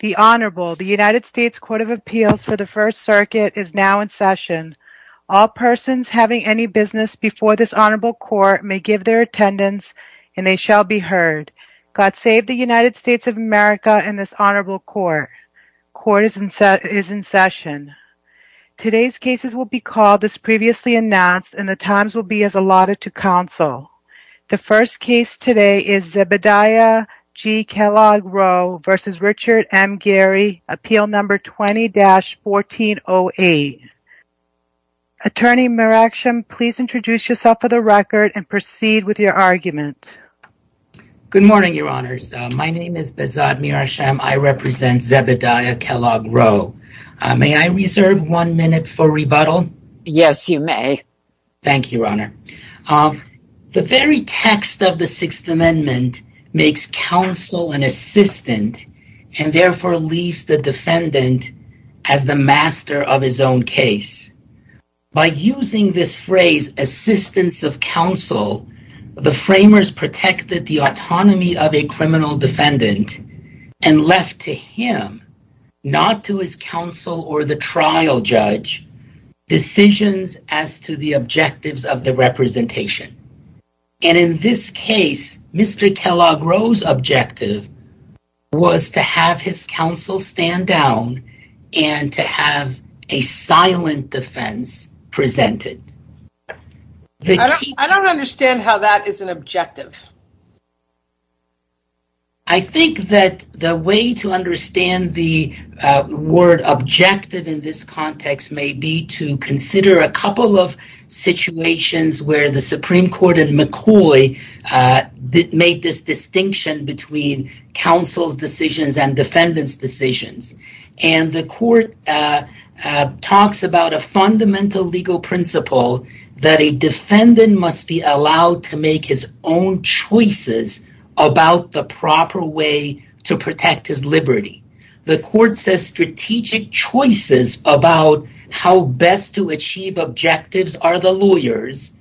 The Honorable, the United States Court of Appeals for the First Circuit is now in session. All persons having any business before this Honorable Court may give their attendance and they shall be heard. God save the United States of America and this Honorable Court. Court is in session. Today's cases will be called as previously announced and the times will be as allotted to counsel. The first case today is Zebediah G. Kellogg-Roe v. Richard M. Gerry, Appeal No. 20-1408. Attorney Mirashem, please introduce yourself for the record and proceed with your argument. Good morning, Your Honors. My name is Bezod Mirashem. I represent Zebediah Kellogg-Roe. May I reserve one minute for rebuttal? Yes, you may. Thank you, Your Honor. The very text of the Sixth Amendment makes counsel an assistant and therefore leaves the defendant as the master of his own case. By using this phrase, assistants of counsel, the framers protected the autonomy of a criminal to the objectives of the representation, and in this case, Mr. Kellogg-Roe's objective was to have his counsel stand down and to have a silent defense presented. I don't understand how that is an objective. I think that the way to understand the word objective in this context may be to consider a couple of situations where the Supreme Court in McCoy made this distinction between counsel's decisions and defendant's decisions. The court talks about a fundamental legal principle that a defendant must be allowed to make his own choices about the proper way to protect his liberty. The court says strategic choices about how best to achieve objectives are the lawyers,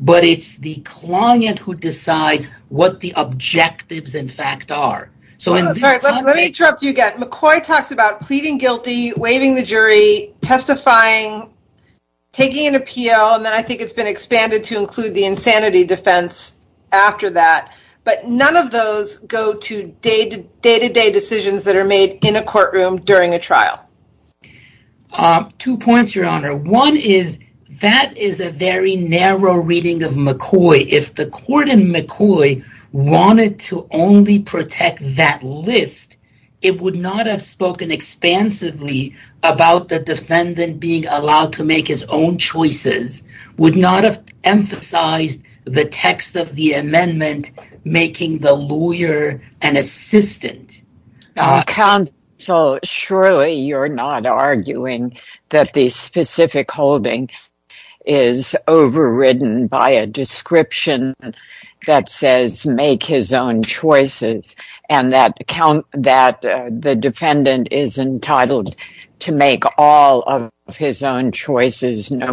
but it's the client who decides what the objectives, in fact, are. Let me interrupt you again. McCoy talks about pleading guilty, waiving the jury, testifying, taking an appeal, and then I think it's been expanded to include the insanity defense after that, but none of those go to day-to-day decisions that are made in a courtroom during a trial. Two points, Your Honor. One is that is a very narrow reading of McCoy. If the court in McCoy wanted to only protect that list, it would not have spoken expansively about the defendant being allowed to make his own choices, would not have emphasized the text of the amendment making the lawyer an assistant. Counsel, surely you're not arguing that the specific holding is overridden by a description that says make his own choices and that the defendant is entitled to make all of his own choices. No,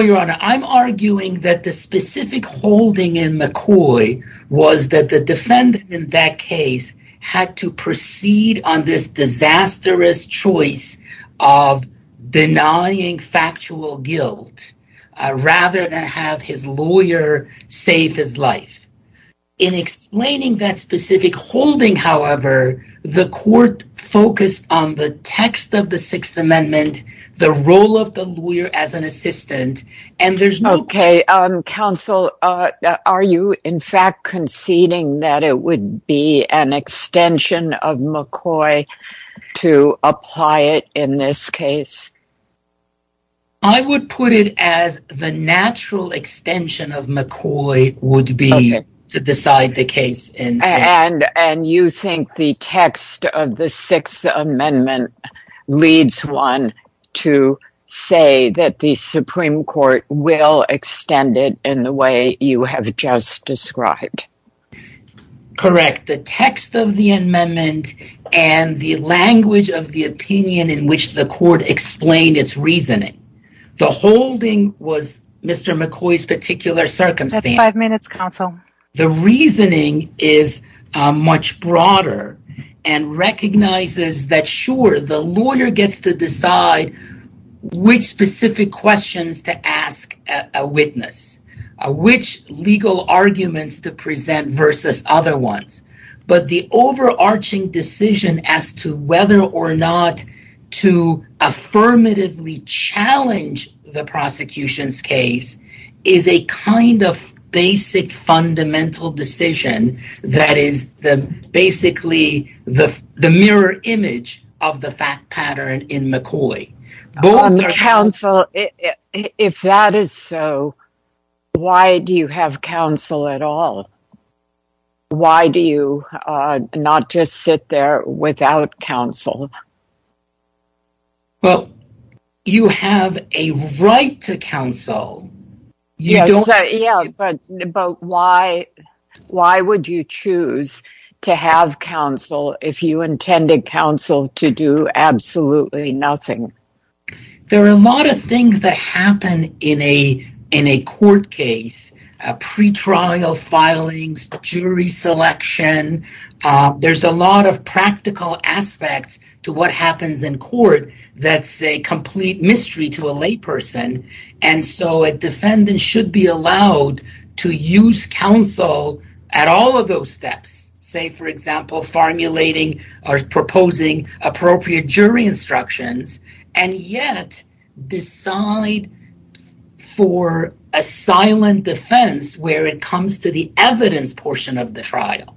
Your Honor. I'm arguing that the specific holding in McCoy was that the defendant in that case had to proceed on this disastrous choice of denying factual guilt rather than have his lawyer save his life. In explaining that specific holding, however, the court focused on the text of the Sixth Amendment, the role of the lawyer as an assistant, and there's no... Okay, Counsel, are you, in fact, conceding that it would be an extension of McCoy to apply it in this case? I would put it as the natural extension of McCoy would be to decide the case. And you think the text of the Sixth Amendment leads one to say that the Supreme Court will extend it in the way you have just described? Correct. The text of the amendment and the language of the opinion in which the court explained its reasoning. The holding was Mr. McCoy's particular circumstance. Five minutes, Counsel. The reasoning is much broader and recognizes that, sure, the lawyer gets to decide which specific questions to ask a witness, which legal arguments to present versus other ones, but the overarching decision as to whether or not to affirmatively challenge the prosecution's case is a kind of basic fundamental decision that is basically the mirror image of the fact pattern in McCoy. Counsel, if that is so, why do you have counsel at all? Why do you not just sit there without counsel? Well, you have a right to counsel. Yes, but why would you choose to have counsel if you intended counsel to do absolutely nothing? There are a lot of things that happen in a court case, pre-trial filings, jury selection. There are a lot of practical aspects to what happens in court that is a complete mystery to a layperson, and so a defendant should be allowed to use counsel at all of those steps, say, for example, formulating or proposing appropriate jury instructions and yet decide for a silent defense where it comes to the evidence portion of the trial.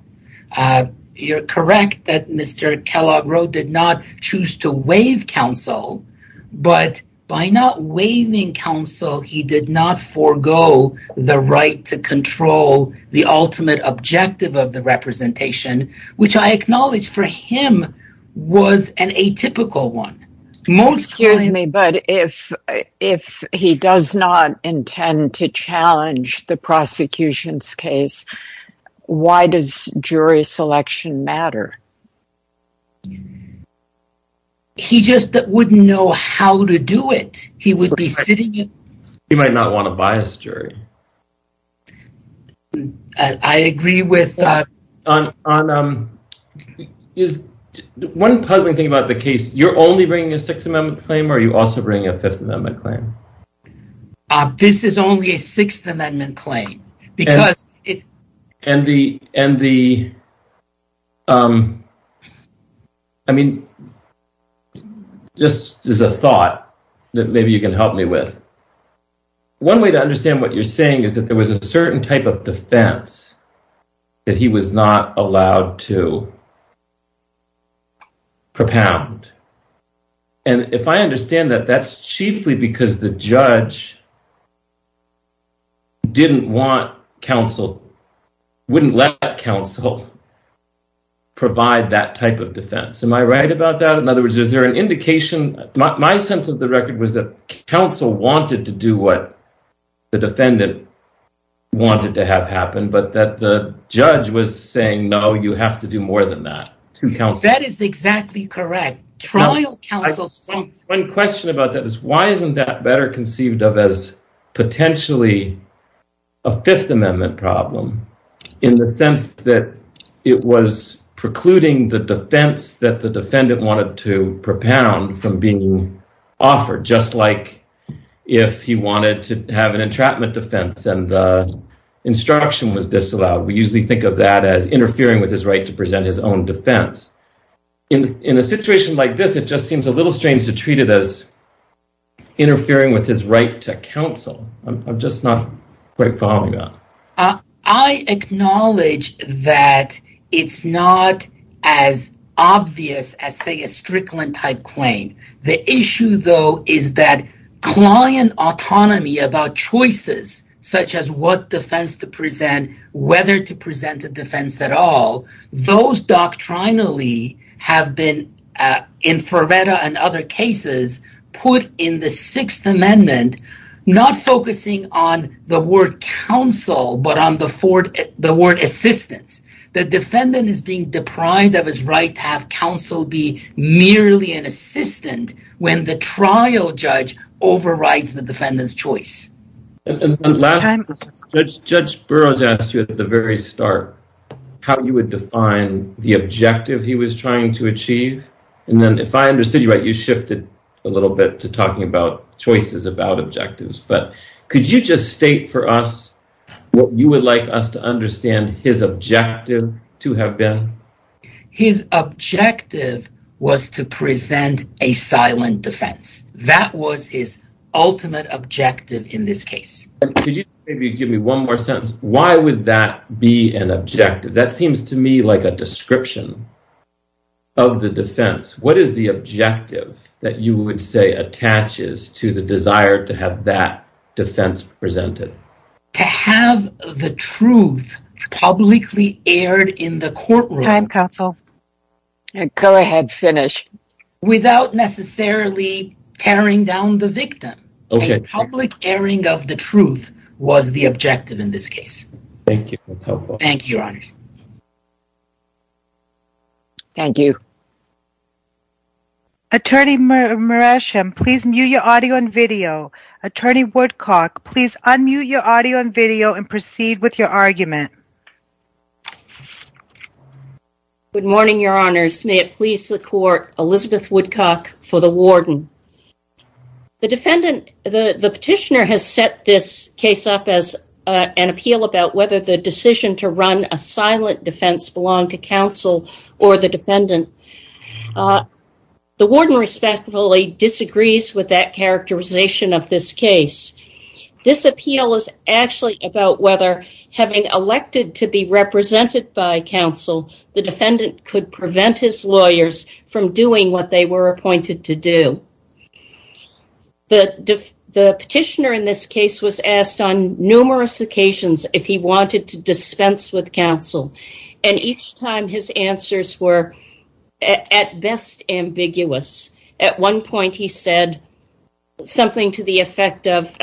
You're correct that Mr. Kellogg-Rowe did not choose to waive counsel, but by not waiving counsel, he did not forego the right to control the ultimate objective of the representation, which I acknowledge for him was an atypical one. Excuse me, but if he does not intend to challenge the prosecution's case, why does jury selection matter? He just wouldn't know how to do it. He would be sitting in... He might not want to bias jury. I agree with... Ron, one puzzling thing about the case, you're only bringing a Sixth Amendment claim, or are you also bringing a Fifth Amendment claim? This is only a Sixth Amendment claim, because it's... This is a thought that maybe you can help me with. One way to understand what you're saying is that there was a certain type of defense that he was not allowed to propound, and if I understand that, that's chiefly because the judge didn't want counsel, wouldn't let counsel provide that type of defense. Am I right about that? In other words, is there an indication... My sense of the record was that counsel wanted to do what the defendant wanted to have happen, but that the judge was saying, no, you have to do more than that to counsel. That is exactly correct. Trial counsel... One question about that is, why isn't that better conceived of as potentially a Fifth Amendment problem, in the sense that it was precluding the defense that the defendant wanted to propound from being offered, just like if he wanted to have an entrapment defense, and the instruction was disallowed. We usually think of that as interfering with his right to present his own defense. In a situation like this, it just seems a little strange to treat it as interfering with his right to counsel. I'm just not quite following that. I acknowledge that it's not as obvious as, say, a Strickland-type claim. The issue, though, is that client autonomy about choices, such as what defense to present, whether to present a defense at all, those doctrinally have been, in Ferreira and other cases, put in the Sixth Amendment, not focusing on the word counsel, but on the word assistance. The defendant is being deprived of his right to have counsel be merely an assistant when the trial judge overrides the defendant's choice. Judge Burroughs asked you at the very start how you would define the objective he was trying to achieve. If I understood you right, you shifted a little bit to talking about choices about objectives, but could you just state for us what you would like us to understand his objective to have been? His objective was to present a silent defense. That was his ultimate objective in this case. Could you maybe give me one more sentence? Why would that be an objective? That seems to me like a description of the defense. What is the objective that you would say attaches to the truth publicly aired in the courtroom without necessarily tearing down the victim? A public airing of the truth was the objective in this case. Thank you. That's helpful. Thank you, Your Honors. Thank you. Attorney Muresh, please mute your audio and video. Attorney Woodcock, please proceed with your argument. Good morning, Your Honors. May it please the Court, Elizabeth Woodcock for the warden. The petitioner has set this case up as an appeal about whether the decision to run a silent defense belonged to counsel or the defendant. The warden respectfully disagrees with that characterization of this case. This appeal is actually about whether having elected to be represented by counsel, the defendant could prevent his lawyers from doing what they were appointed to do. The petitioner in this case was asked on numerous occasions if he wanted to something to the effect of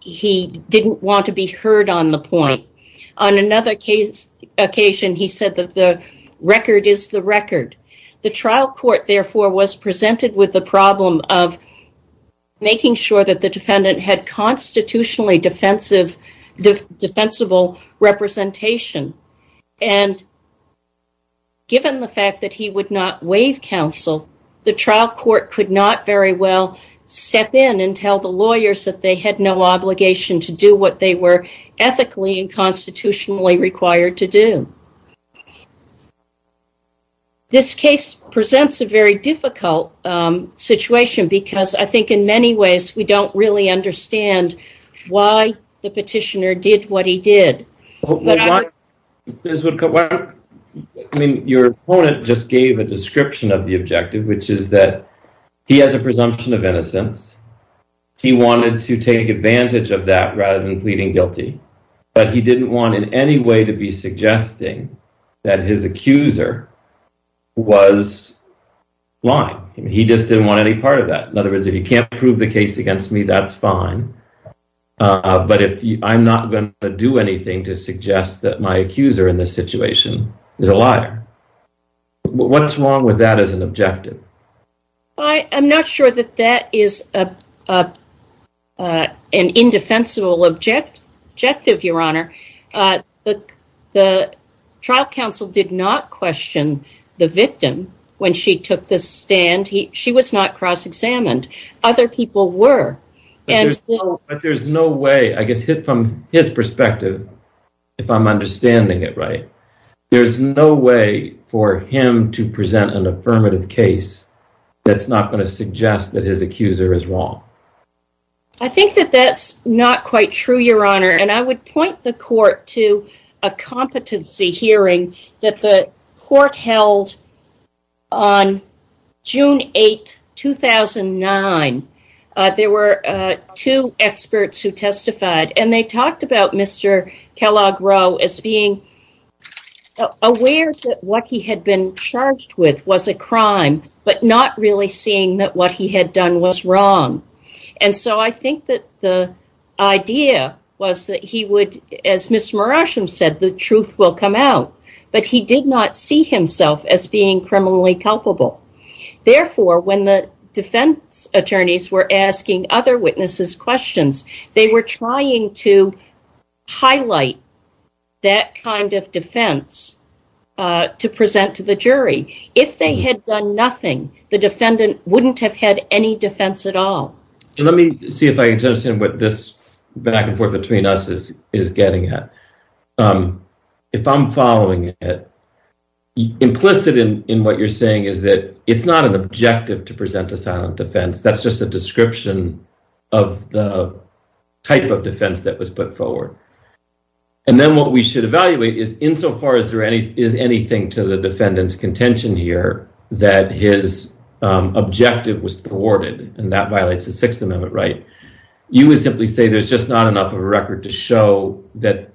he didn't want to be heard on the point. On another occasion, he said that the record is the record. The trial court, therefore, was presented with the problem of making sure that the defendant had constitutionally defensible representation. And given the fact that he would not waive counsel, the trial court could not very well step in and tell the lawyers that they had no obligation to do what they were ethically and constitutionally required to do. This case presents a very difficult situation because I think in many ways we don't really understand why the petitioner did what he did. Your opponent just gave a description of the objective, which is that he has a presumption of innocence. He wanted to take advantage of that rather than pleading guilty, but he didn't want in any way to be suggesting that his accuser was lying. He just didn't want any part of that. If you can't prove the case against me, that's fine, but I'm not going to do anything to suggest that my accuser in this situation is a liar. What's wrong with that as an objective? I'm not sure that that is an indefensible objective, Your Honor. The trial counsel did question the victim when she took the stand. She was not cross-examined. Other people were. But there's no way, I guess, from his perspective, if I'm understanding it right, there's no way for him to present an affirmative case that's not going to suggest that his accuser is wrong. I think that that's not quite true, Your Honor, and I would point the court to a competency hearing that the court held on June 8, 2009. There were two experts who testified, and they talked about Mr. Kellogg Rowe as being aware that what he had been charged with was a crime, but not really seeing that what he had done was wrong. And so I think that the idea was that he would, as Mr. Marasham said, the truth will come out, but he did not see himself as being criminally culpable. Therefore, when the defense attorneys were asking other witnesses questions, they were trying to highlight that kind of defense to present to the jury. If they had done nothing, the defendant wouldn't have had any defense at all. Let me see if I can get that. If I'm following it, implicit in what you're saying is that it's not an objective to present a silent defense. That's just a description of the type of defense that was put forward. And then what we should evaluate is, insofar as there is anything to the defendant's contention here that his objective was thwarted, and that violates the Sixth Amendment right, you would simply say there's just not enough of a record to show that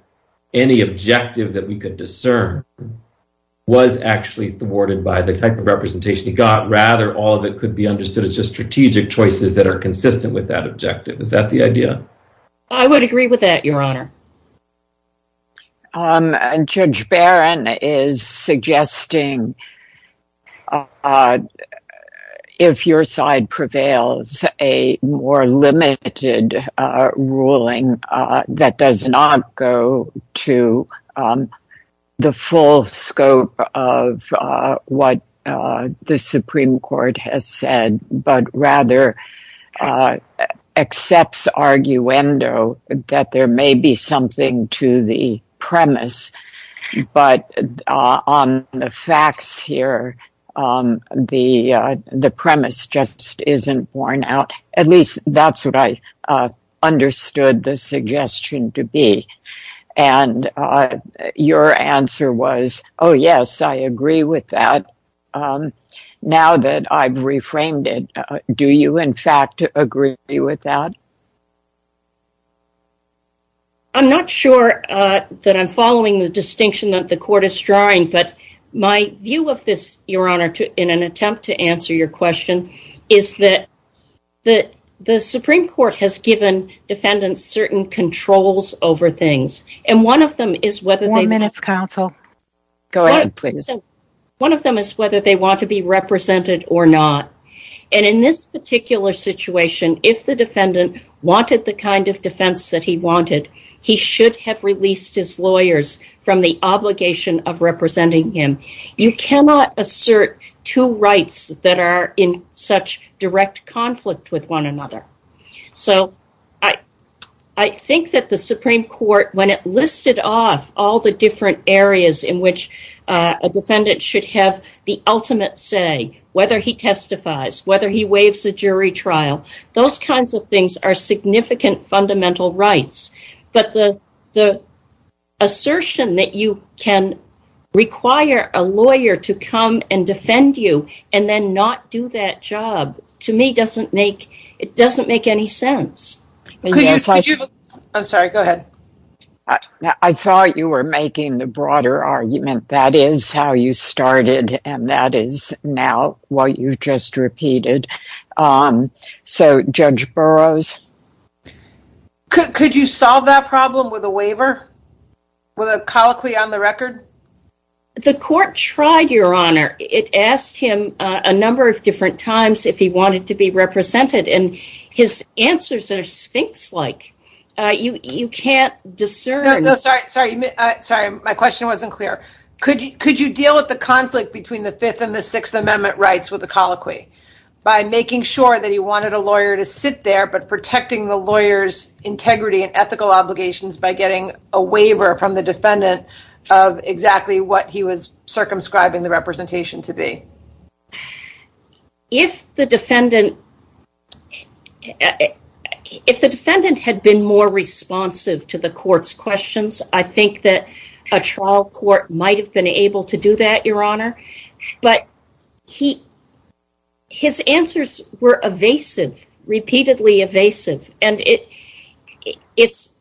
any objective that we could discern was actually thwarted by the type of representation he got. Rather, all of it could be understood as just strategic choices that are consistent with that objective. Is that the idea? I would agree with that, Your Honor. Judge Barron is suggesting if your side prevails, a more limited ruling that does not go to the full scope of what the Supreme Court has said, but rather accepts arguendo that there may be something to the premise. But on the facts here, the premise just isn't borne out. At least that's what I understood the suggestion to be. And your answer was, oh yes, I agree with that now that I've reframed it. Do you, in fact, agree with that? I'm not sure that I'm following the distinction that the court is drawing, but my view of this, Your Honor, in an attempt to answer your question, is that the Supreme Court has given defendants certain controls over things. And one of them is whether they want to be represented or not. And in this particular situation, if the defendant wanted the kind of defense that he wanted, he should have released his lawyers from the obligation of representing him. You cannot assert two rights that are in such direct conflict with one another. So, I think that the Supreme Court, when it listed off all the different areas in which a defendant should have the ultimate say, whether he testifies, whether he waives a jury trial, those kinds of things are significant fundamental rights. But the assertion that you can require a lawyer to come and defend you and then not do that job, to me, it doesn't make any sense. I'm sorry, go ahead. I thought you were making the broader argument. That is how you started, and that is now what you've just repeated. So, Judge Burroughs? Could you solve that problem with a waiver? With a colloquy on the record? The court tried, Your Honor. It asked him a number of different times if he wanted to be discerned. Sorry, my question wasn't clear. Could you deal with the conflict between the Fifth and the Sixth Amendment rights with a colloquy by making sure that he wanted a lawyer to sit there, but protecting the lawyer's integrity and ethical obligations by getting a waiver from the defendant of exactly what he was circumscribing the representation to be? If the defendant had been more responsive to the court's questions, I think that a trial court might have been able to do that, Your Honor. But his answers were evasive, repeatedly evasive, and it's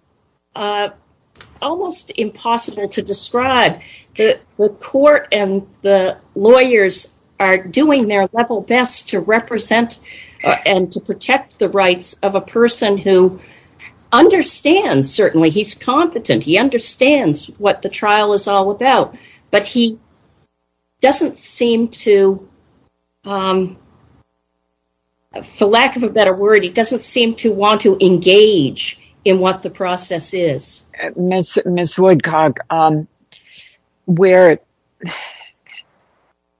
almost impossible to describe. The court and the lawyers are doing their level best to represent and to protect the rights of a person who understands, certainly, he's competent. He understands what the trial is all about, but he doesn't seem to, for lack of a better word, he doesn't seem to want to engage in what the process is. Ms. Woodcock, where,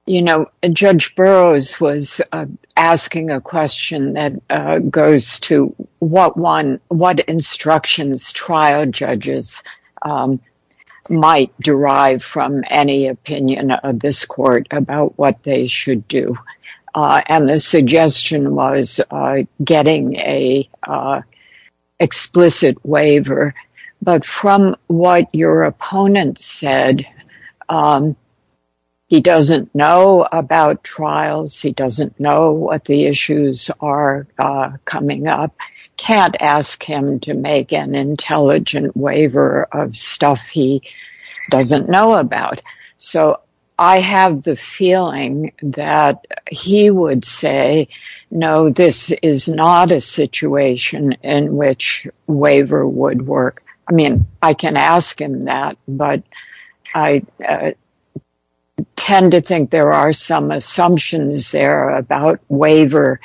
you know, Judge Burroughs was asking a question that goes to what instructions trial judges might derive from any opinion of this court about what they should do, and the suggestion was getting an explicit waiver. But from what your opponent said, he doesn't know about trials, he doesn't know what the issues are coming up, can't ask him to make an intelligent waiver of stuff he doesn't know about. So, I have the feeling that he would say, no, this is not a situation in which waiver would work. I mean, I can ask him that, but I tend to think there are some assumptions there about waiver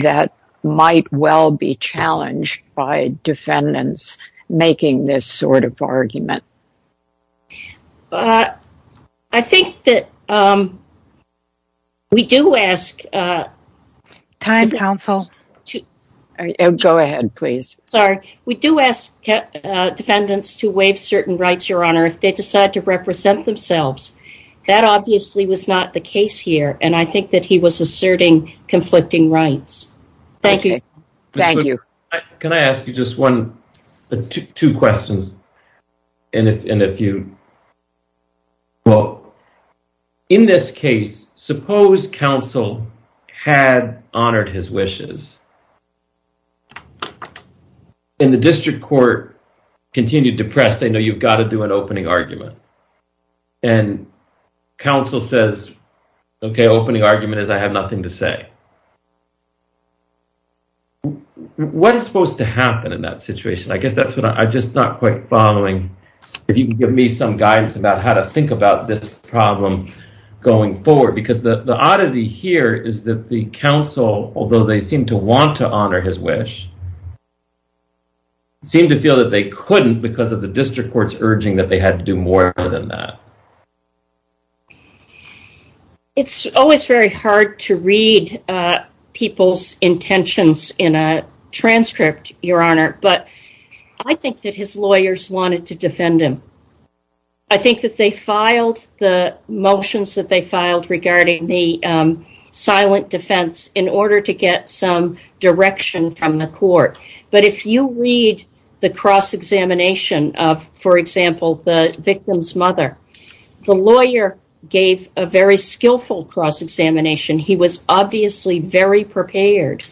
that might well be challenged by defendants making this sort of argument. I think that we do ask defendants to waive certain rights, Your Honor, if they decide to represent themselves. That obviously was not the case here, and I think that he was asserting conflicting rights. Thank you. Thank you. Can I ask you just one, two questions, and if you, well, in this case, suppose counsel had honored his wishes, and the district court continued to press, they know you've got to do an opening argument, and counsel says, okay, opening argument is I have nothing to say. What is supposed to happen in that situation? I guess that's what I'm just not quite following, if you can give me some guidance about how to think about this problem going forward, because the oddity here is that the counsel, although they seem to want to honor his wish, seem to feel that they couldn't because of the district court's urging that they had to do more than that. It's always very hard to read people's intentions in a transcript, Your Honor, but I think that his lawyers wanted to defend him. I think that they filed the motions that they filed regarding the silent defense in order to get some direction from the court, but if you read the cross-examination of, for example, the victim's mother, the lawyer gave a very skillful cross-examination. He was obviously very prepared.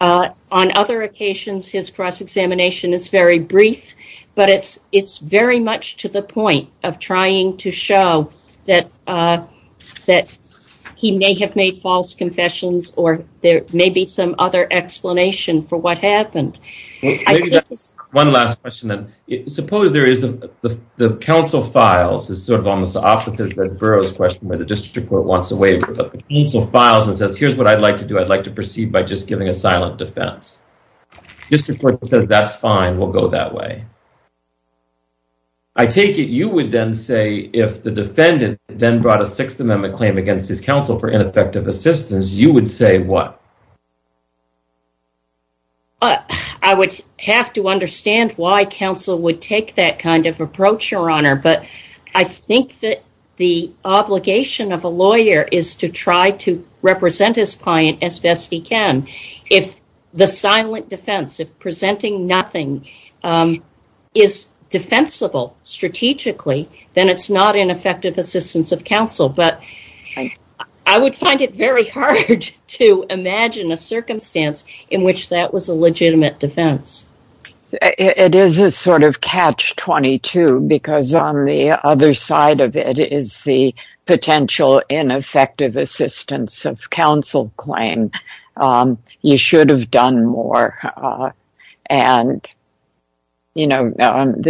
On other occasions, his cross-examination is very brief, but it's very much to the point of trying to show that he may have made false confessions, or there may be some other explanation for what happened. One last question, then. Suppose there is the counsel files. It's sort of almost the opposite of Burroughs' question, where the district court wants to waive the counsel files and says, here's what I'd like to do. I'd like to proceed by just giving a silent defense. District court says, that's fine. We'll go that way. I take it you would then say, if the defendant then brought a Sixth Amendment claim against his counsel for ineffective assistance, you would say what? I would have to understand why counsel would take that kind of approach, Your Honor, but I think that the obligation of a lawyer is to try to represent his client as best he can. If the silent defense, if presenting nothing, is defensible strategically, then it's not ineffective assistance of counsel, but I would find it very hard to imagine a circumstance in which that was a legitimate defense. It is a sort of catch-22, because on the other side of it is the potential ineffective assistance of counsel claim. You should have done more. The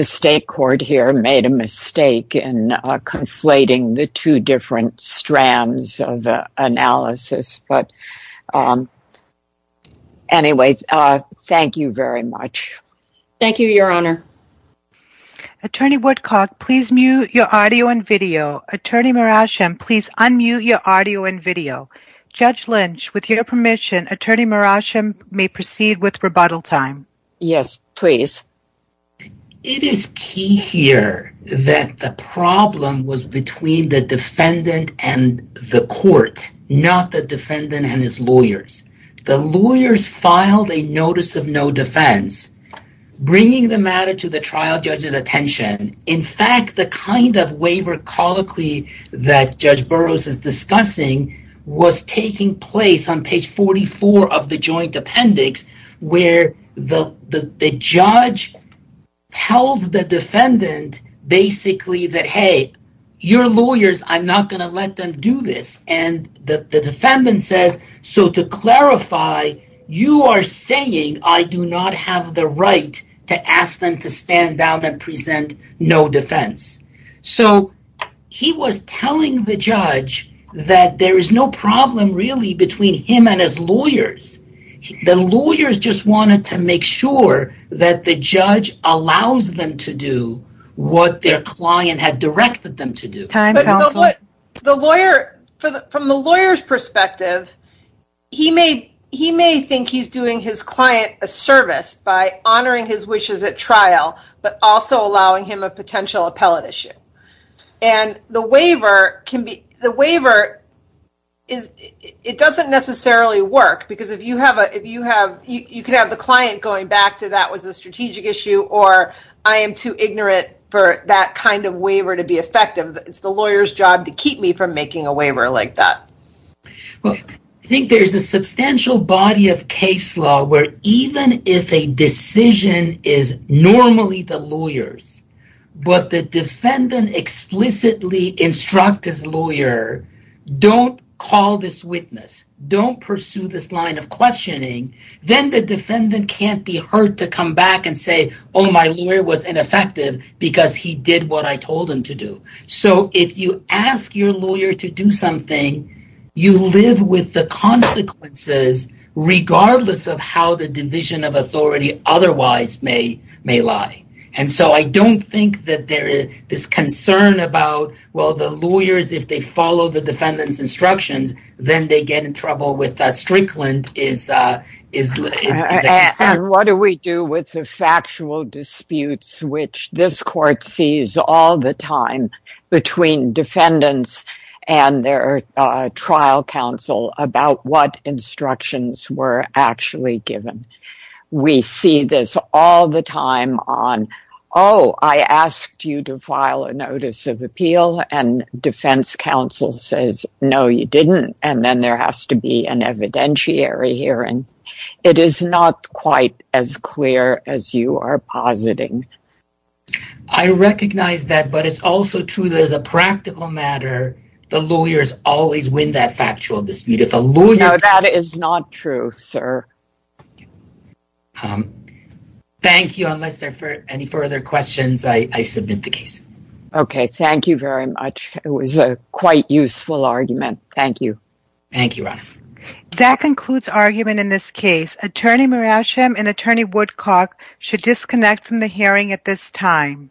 state court here made a mistake in conflating the two different strands of analysis. Anyway, thank you very much. Thank you, Your Honor. Attorney Woodcock, please mute your audio and video. Attorney Marascham, please unmute your audio and video. Judge Lynch, with your permission, Attorney Marascham may proceed with rebuttal time. Yes, please. It is key here that the problem was between the defendant and the court, not the defendant and his lawyers. The lawyers filed a notice of no defense, bringing the matter to the trial judge's attention. In fact, the kind of waiver colloquy that Judge Burroughs is discussing was taking place on page 44 of the joint appendix, where the judge tells the defendant, basically, that, hey, your lawyers, I'm not going to let them do this. The defendant says, so to clarify, you are saying I do not have the right to ask them to stand down and present no defense. He was telling the judge that there is no problem, really, between him and his lawyers. The lawyers just wanted to make sure that the judge allows them to do what their client had directed them to do. From the lawyer's perspective, he may think he's doing his client a service by honoring his wishes at trial, but also allowing him a potential appellate issue. The waiver, it doesn't necessarily work, because you could have the client going back to that was a strategic issue, or I am too ignorant for that kind of waiver to be effective. It's the lawyer's job to keep me from making a waiver like that. There's a substantial body of case law where even if a decision is normally the lawyer's, but the defendant explicitly instructs his lawyer, don't call this witness, don't pursue this line of questioning, then the defendant can't be heard to come back and say, my lawyer was ineffective because he did what I told him to do. If you ask your lawyer to do something, you live with the consequences regardless of how the division of authority otherwise may lie. I don't think that there is this concern about the lawyers if they follow the defendant's instructions, then they get in trouble with Strickland. What do we do with the factual disputes, which this court sees all the time between defendants and their trial counsel about what instructions were actually given? We see this all the time on, oh, I asked you to file a notice of and then there has to be an evidentiary hearing. It is not quite as clear as you are positing. I recognize that, but it's also true that as a practical matter, the lawyers always win that factual dispute. No, that is not true, sir. Thank you. Unless there are any further questions, I submit the case. Okay. Thank you very much. It was a quite useful argument. Thank you. Thank you, Ronna. That concludes argument in this case. Attorney Murasham and Attorney Woodcock should disconnect from the hearing at this time.